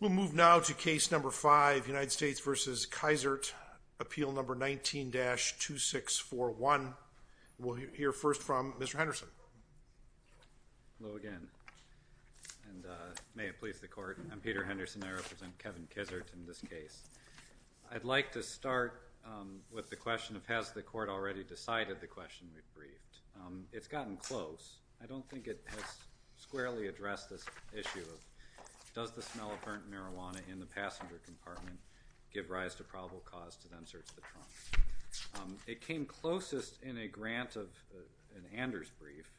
We'll move now to Case No. 5, United States v. Kizart, Appeal No. 19-2641. We'll hear first from Mr. Henderson. Hello again, and may it please the Court. I'm Peter Henderson. I represent Kevin Kizart in this case. I'd like to start with the question of has the Court already decided the question we've briefed. It's gotten close. I don't think it has squarely addressed this issue of does the smell of burnt marijuana in the passenger compartment give rise to probable cause to then search the trunk. It came closest in a grant of an Anders brief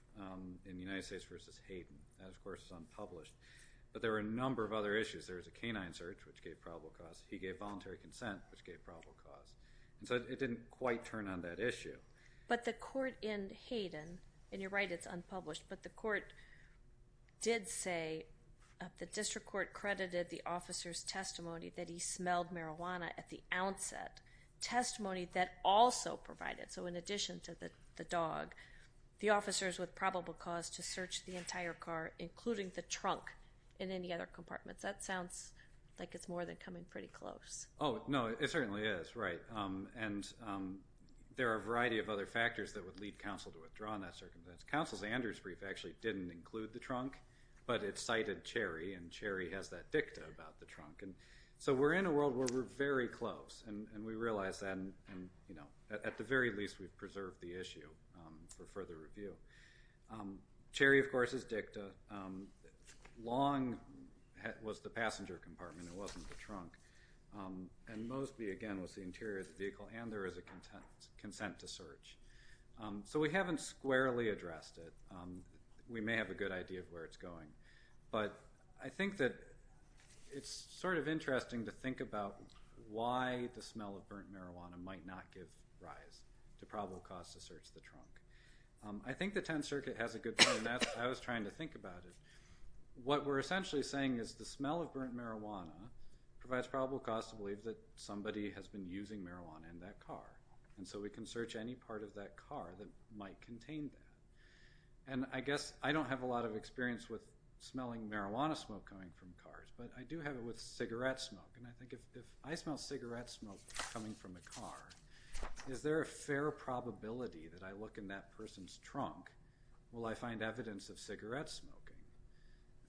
in United States v. Hayden. That, of course, is unpublished. But there were a number of other issues. There was a canine search, which gave probable cause. He gave voluntary consent, which gave probable cause. And so it didn't quite turn on that issue. But the Court in Hayden, and you're right, it's unpublished, but the District Court credited the officer's testimony that he smelled marijuana at the onset, testimony that also provided, so in addition to the dog, the officers with probable cause to search the entire car, including the trunk, in any other compartments. That sounds like it's more than coming pretty close. Oh, no, it certainly is, right. And there are a variety of other factors that would lead counsel to withdraw in that circumstance. Counsel's Anders brief actually didn't include the trunk, but it cited Cherry, and Cherry has that dicta about the trunk. And so we're in a world where we're very close, and we realize that. And at the very least, we've preserved the issue for further review. Cherry, of course, is dicta. Long was the passenger compartment. It wasn't the trunk. And Mosby, again, was the interior of the vehicle, and there is a consent to search. So we haven't squarely addressed it. We may have a good idea of where it's going. But I think that it's sort of interesting to think about why the smell of burnt marijuana might not give rise to probable cause to search the trunk. I think the 10th Circuit has a good point. I was trying to think about it. What we're essentially saying is the smell of burnt marijuana provides probable cause to believe that somebody has been using marijuana in that car. And so we can search any part of that car that might contain that. And I guess I don't have a lot of experience with smelling marijuana smoke coming from cars, but I do have it with cigarette smoke. And I think if I smell cigarette smoke coming from a car, is there a fair probability that I look in that person's trunk? Will I find evidence of cigarette smoking?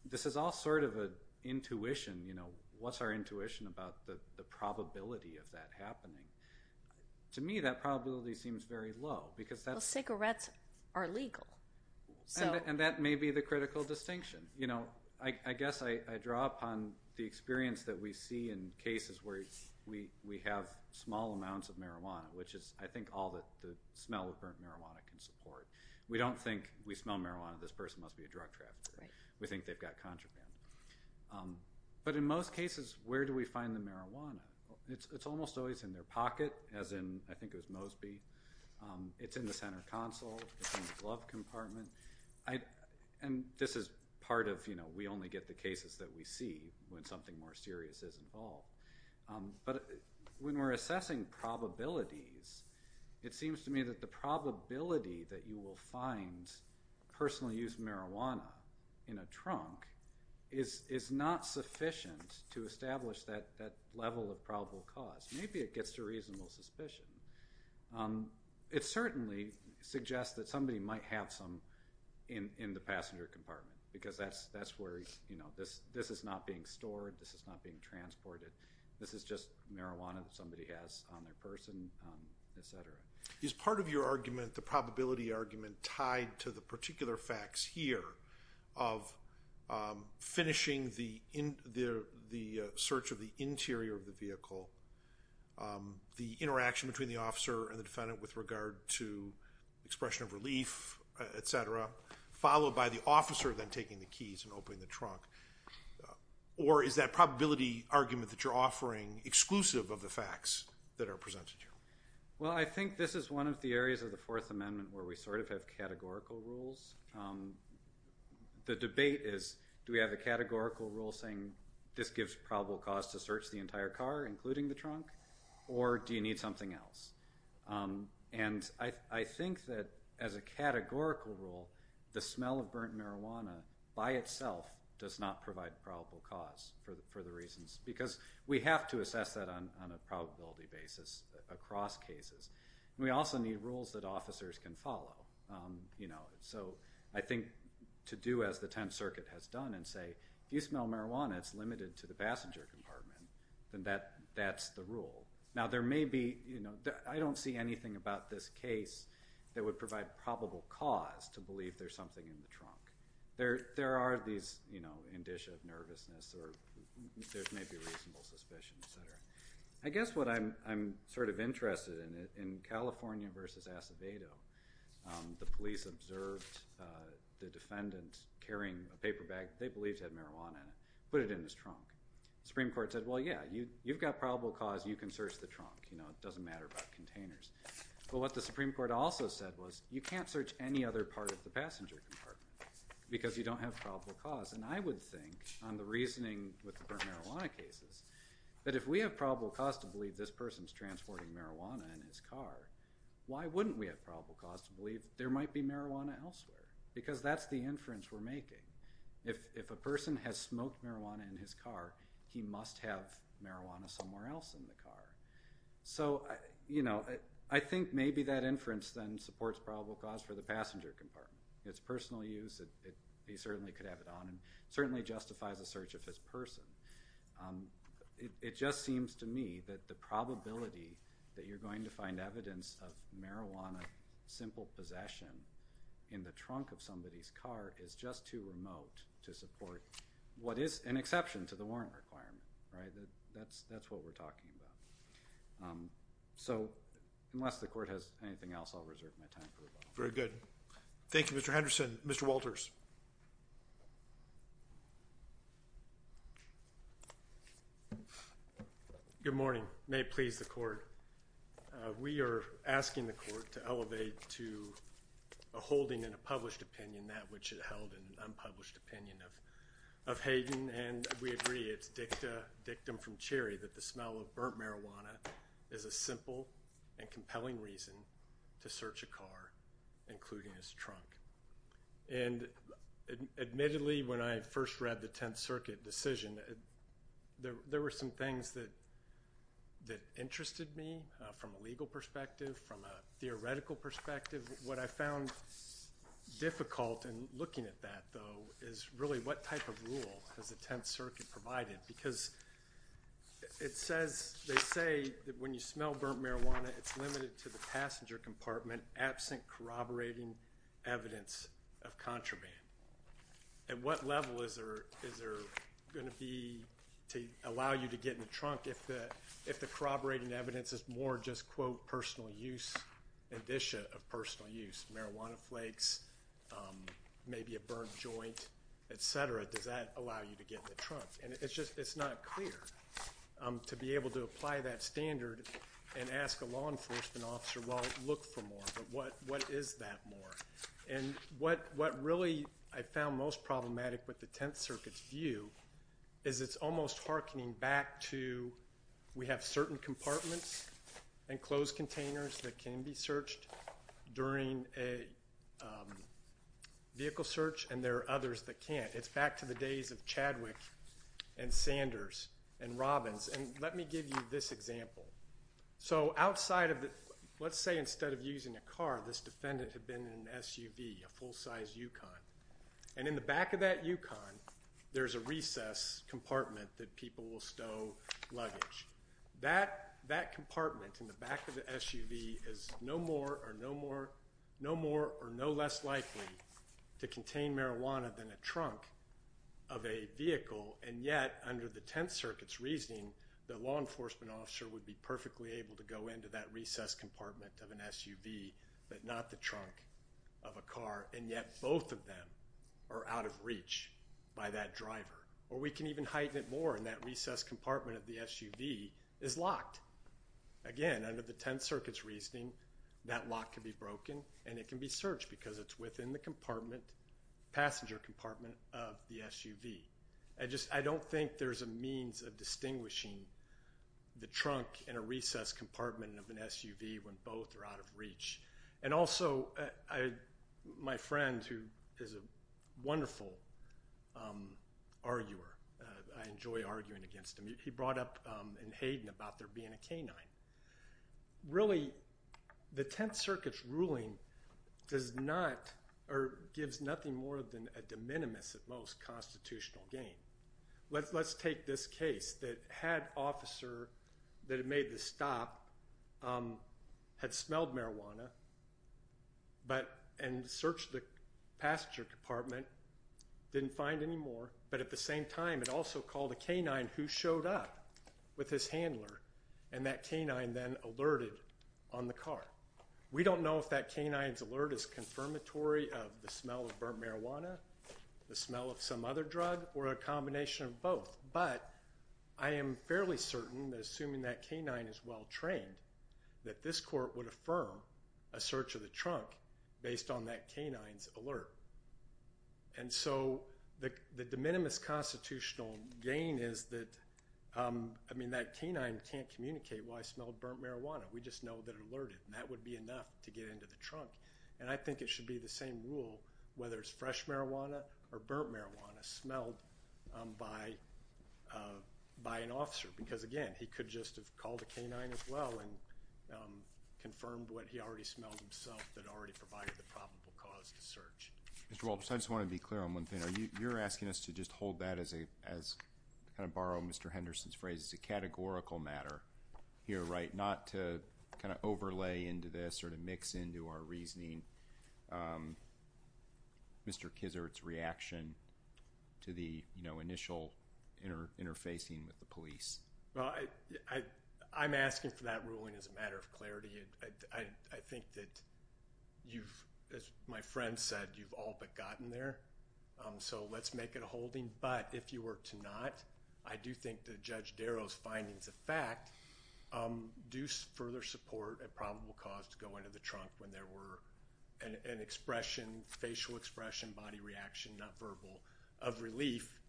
This is all sort of an intuition, you know. What's our intuition about the probability of that happening? To me, that probability seems very low because that's… Well, cigarettes are legal. And that may be the critical distinction. You know, I guess I draw upon the experience that we see in cases where we have small amounts of marijuana, which is, I think, all that the smell of burnt marijuana can support. We don't think, we smell marijuana, this person must be a drug trafficker. We think they've got contraband. But in most cases, where do we find the marijuana? It's almost always in their pocket, as in, I think it was Mosby. It's in the center console. It's in the glove compartment. And this is part of, you know, we only get the cases that we see when something more serious is involved. But when we're assessing probabilities, it seems to me that the probability that you will find personally used marijuana in a trunk is not sufficient to establish that level of probable cause. Maybe it gets to reasonable suspicion. It certainly suggests that somebody might have some in the passenger compartment because that's where, you know, this is not being stored. This is not being transported. This is just marijuana that somebody has on their person, et cetera. Is part of your argument, the probability argument tied to the particular facts here of finishing the search of the interior of the vehicle, the interaction between the officer and the defendant with regard to expression of relief, et cetera, followed by the officer then taking the keys and opening the trunk, or is that probability argument that you're offering exclusive of the facts that are presented here? Well, I think this is one of the areas of the Fourth Amendment where we sort of have categorical rules. The debate is do we have a categorical rule saying this gives probable cause to search the entire car, including the trunk, or do you need something else? And I think that as a categorical rule, the smell of burnt marijuana by itself does not provide probable cause for the reasons, because we have to assess that on a probability basis across cases. We also need rules that officers can follow, you know, so I think to do as the Tenth Circuit has done and say, if you smell marijuana, it's limited to the passenger compartment, then that's the rule. Now, there may be, you know, I don't see anything about this case that would provide probable cause to believe there's something in the trunk. There are these, you know, indicia of nervousness, or there may be reasonable suspicion, et cetera. I guess what I'm sort of interested in, in California versus Acevedo, the police observed the defendant carrying a paper bag. They believed it had marijuana in it. Put it in his trunk. The Supreme Court said, well, yeah, you've got probable cause. You can search the trunk. You know, it doesn't matter about containers. But what the Supreme Court also said was, you can't search any other part of the passenger compartment because you don't have probable cause. And I would think, on the reasoning with the burnt marijuana cases, that if we have probable cause to believe this person's transporting marijuana in his car, why wouldn't we have probable cause to believe there might be marijuana elsewhere? Because that's the inference we're making. If a person has smoked marijuana in his car, he must have marijuana somewhere else in the car. So, you know, I think maybe that inference then supports probable cause for the passenger compartment. It's personal use. He certainly could have it on him. It certainly justifies a search of his person. It just seems to me that the probability that you're going to find evidence of marijuana, simple possession, in the trunk of somebody's car is just too remote to support what is an exception to the warrant requirement. Right? That's what we're talking about. So, unless the Court has anything else, I'll reserve my time for rebuttal. Very good. Thank you, Mr. Henderson. Mr. Walters. Good morning. May it please the Court. We are asking the Court to elevate to a holding in a published opinion that which it held in an unpublished opinion of Hayden, and we agree it's dictum from Cherry that the smell of burnt marijuana is a simple and compelling reason to search a car, including his trunk. And admittedly, when I first read the Tenth Circuit decision, there were some things that interested me from a legal perspective, from a theoretical perspective. What I found difficult in looking at that, though, is really what type of rule has the Tenth Circuit provided? Because it says, they say that when you smell burnt marijuana, it's limited to the passenger compartment, absent corroborating evidence of contraband. At what level is there going to be to allow you to get in the trunk if the corroborating evidence is more just, quote, personal use, an addition of personal use? Marijuana flakes, maybe a burnt joint, et cetera. Does that allow you to get in the trunk? And it's just not clear to be able to apply that standard and ask a law enforcement officer, well, look for more. But what is that more? And what really I found most problematic with the Tenth Circuit's view is it's almost harkening back to we have certain compartments and closed containers that can be searched during a vehicle search and there are others that can't. It's back to the days of Chadwick and Sanders and Robbins. And let me give you this example. So outside of the, let's say instead of using a car, this defendant had been in an SUV, a full-size Yukon. And in the back of that Yukon, there's a recess compartment that people will stow luggage. That compartment in the back of the SUV is no more or no less likely to contain marijuana than a trunk of a vehicle. And yet, under the Tenth Circuit's reasoning, the law enforcement officer would be perfectly able to go into that recess compartment of an SUV, but not the trunk of a car, and yet both of them are out of reach by that driver. Or we can even heighten it more and that recess compartment of the SUV is locked. Again, under the Tenth Circuit's reasoning, that lock can be broken and it can be searched because it's within the passenger compartment of the SUV. I don't think there's a means of distinguishing the trunk in a recess compartment of an SUV when both are out of reach. And also, my friend who is a wonderful arguer, I enjoy arguing against him, he brought up in Hayden about there being a canine. Really, the Tenth Circuit's ruling does not or gives nothing more than a de minimis at most constitutional gain. Let's take this case that had officer that had made the stop had smelled marijuana and searched the passenger compartment, didn't find any more, but at the same time it also called a canine who showed up with his handler, and that canine then alerted on the car. Now, we don't know if that canine's alert is confirmatory of the smell of burnt marijuana, the smell of some other drug, or a combination of both, but I am fairly certain that assuming that canine is well-trained, that this court would affirm a search of the trunk based on that canine's alert. And so the de minimis constitutional gain is that that canine can't communicate, well, I smelled burnt marijuana. We just know that it alerted, and that would be enough to get into the trunk. And I think it should be the same rule, whether it's fresh marijuana or burnt marijuana, smelled by an officer because, again, he could just have called a canine as well and confirmed what he already smelled himself that already provided the probable cause to search. Mr. Walts, I just want to be clear on one thing. You're asking us to just hold that as, to kind of borrow Mr. Henderson's phrase, as a categorical matter here, right, not to kind of overlay into this or to mix into our reasoning Mr. Kizer's reaction to the initial interfacing with the police. Well, I'm asking for that ruling as a matter of clarity. I think that you've, as my friend said, you've all but gotten there. So let's make it a holding. But if you were to not, I do think that Judge Darrow's findings of fact do further support a probable cause to go into the trunk when there were an expression, facial expression, body reaction, not verbal, of relief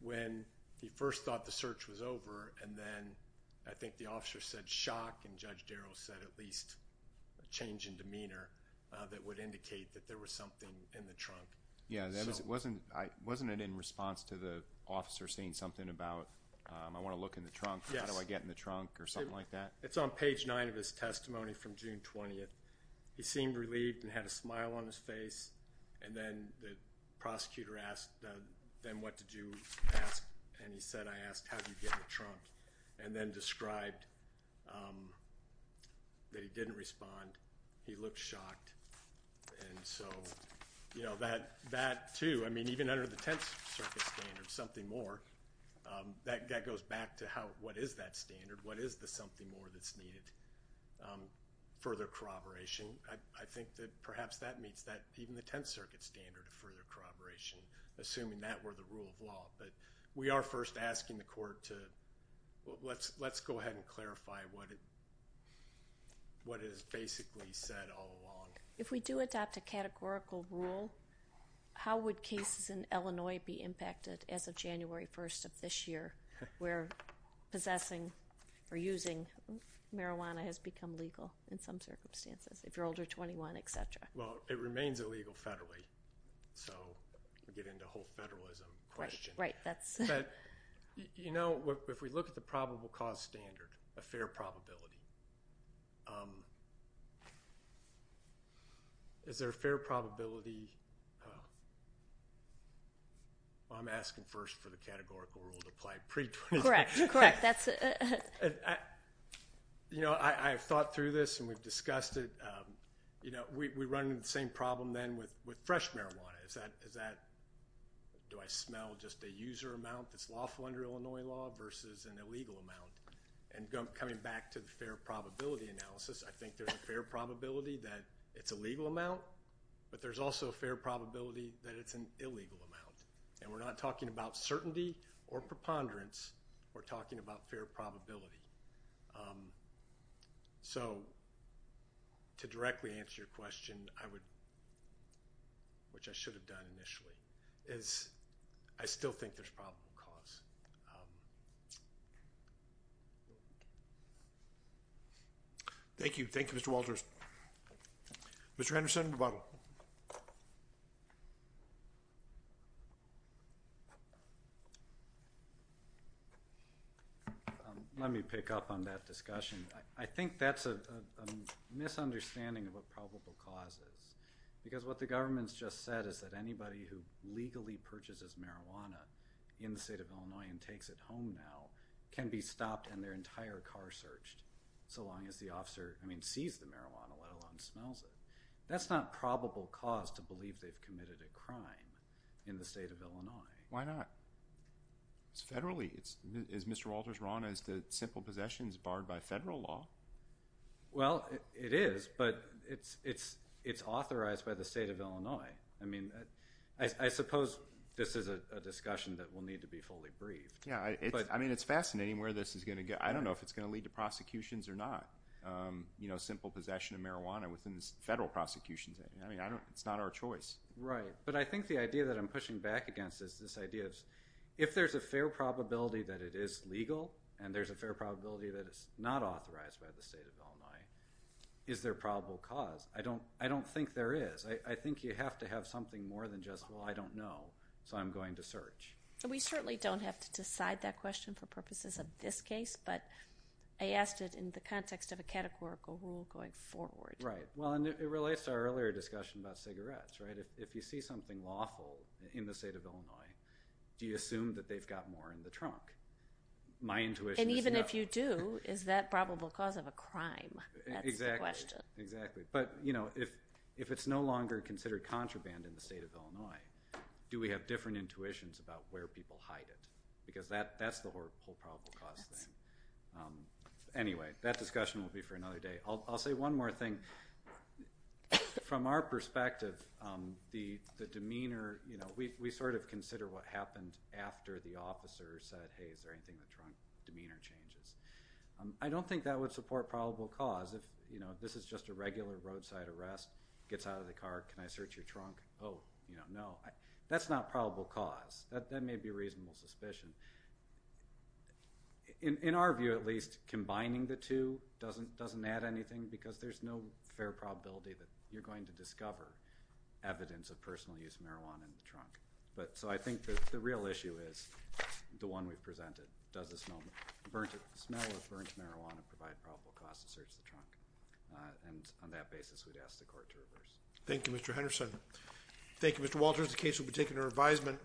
when he first thought the search was over. And then I think the officer said shock and Judge Darrow said at least a change in demeanor that would indicate that there was something in the trunk. Yeah, wasn't it in response to the officer saying something about I want to look in the trunk, how do I get in the trunk or something like that? It's on page nine of his testimony from June 20th. He seemed relieved and had a smile on his face. And then the prosecutor asked, then what did you ask? And he said, I asked, how did you get in the trunk? And then described that he didn't respond. He looked shocked. And so, you know, that too, I mean, even under the Tenth Circuit standard, something more, that goes back to what is that standard? What is the something more that's needed? Further corroboration. I think that perhaps that meets even the Tenth Circuit standard of further corroboration, assuming that were the rule of law. But we are first asking the court to let's go ahead and clarify what is basically said all along. If we do adopt a categorical rule, how would cases in Illinois be impacted as of January 1st of this year where possessing or using marijuana has become legal in some circumstances, if you're older 21, et cetera? Well, it remains illegal federally. So we get into a whole federalism question. Right. But, you know, if we look at the probable cause standard, a fair probability, is there a fair probability? I'm asking first for the categorical rule to apply pre-21. Correct. Correct. You know, I have thought through this, and we've discussed it. You know, we run into the same problem then with fresh marijuana. Is that, do I smell just a user amount that's lawful under Illinois law versus an illegal amount? And coming back to the fair probability analysis, I think there's a fair probability that it's a legal amount, but there's also a fair probability that it's an illegal amount. And we're not talking about certainty or preponderance. We're talking about fair probability. So to directly answer your question, I would, which I should have done initially, is I still think there's probable cause. Thank you. Thank you, Mr. Walters. Mr. Henderson, rebuttal. Let me pick up on that discussion. I think that's a misunderstanding of what probable cause is because what the government's just said is that anybody who legally purchases marijuana in the state of Illinois and takes it home now can be stopped and their entire car searched so long as the officer, I mean, sees the marijuana, let alone smells it. That's not probable cause to believe they've committed a crime in the state of Illinois. Why not? It's federally. Is Mr. Walters wrong as to simple possession is barred by federal law? Well, it is, but it's authorized by the state of Illinois. I mean, I suppose this is a discussion that will need to be fully briefed. Yeah, I mean, it's fascinating where this is going to go. I don't know if it's going to lead to prosecutions or not. I mean, it's not our choice. Right, but I think the idea that I'm pushing back against is this idea of if there's a fair probability that it is legal and there's a fair probability that it's not authorized by the state of Illinois, is there probable cause? I don't think there is. I think you have to have something more than just, well, I don't know, so I'm going to search. We certainly don't have to decide that question for purposes of this case, but I asked it in the context of a categorical rule going forward. Right. Well, and it relates to our earlier discussion about cigarettes, right? If you see something lawful in the state of Illinois, do you assume that they've got more in the trunk? My intuition is no. And even if you do, is that probable cause of a crime? Exactly. That's the question. Exactly. But, you know, if it's no longer considered contraband in the state of Illinois, do we have different intuitions about where people hide it? Because that's the whole probable cause thing. Anyway, that discussion will be for another day. I'll say one more thing. From our perspective, the demeanor, you know, we sort of consider what happened after the officer said, hey, is there anything in the trunk, demeanor changes. I don't think that would support probable cause. If, you know, this is just a regular roadside arrest, gets out of the car, can I search your trunk? Oh, you know, no. That's not probable cause. That may be a reasonable suspicion. In our view, at least, combining the two doesn't add anything because there's no fair probability that you're going to discover evidence of personal use marijuana in the trunk. So I think that the real issue is the one we've presented. Does the smell of burnt marijuana provide probable cause to search the trunk? And on that basis, we'd ask the court to reverse. Thank you, Mr. Henderson. Thank you, Mr. Walters. The case will be taken to revisement.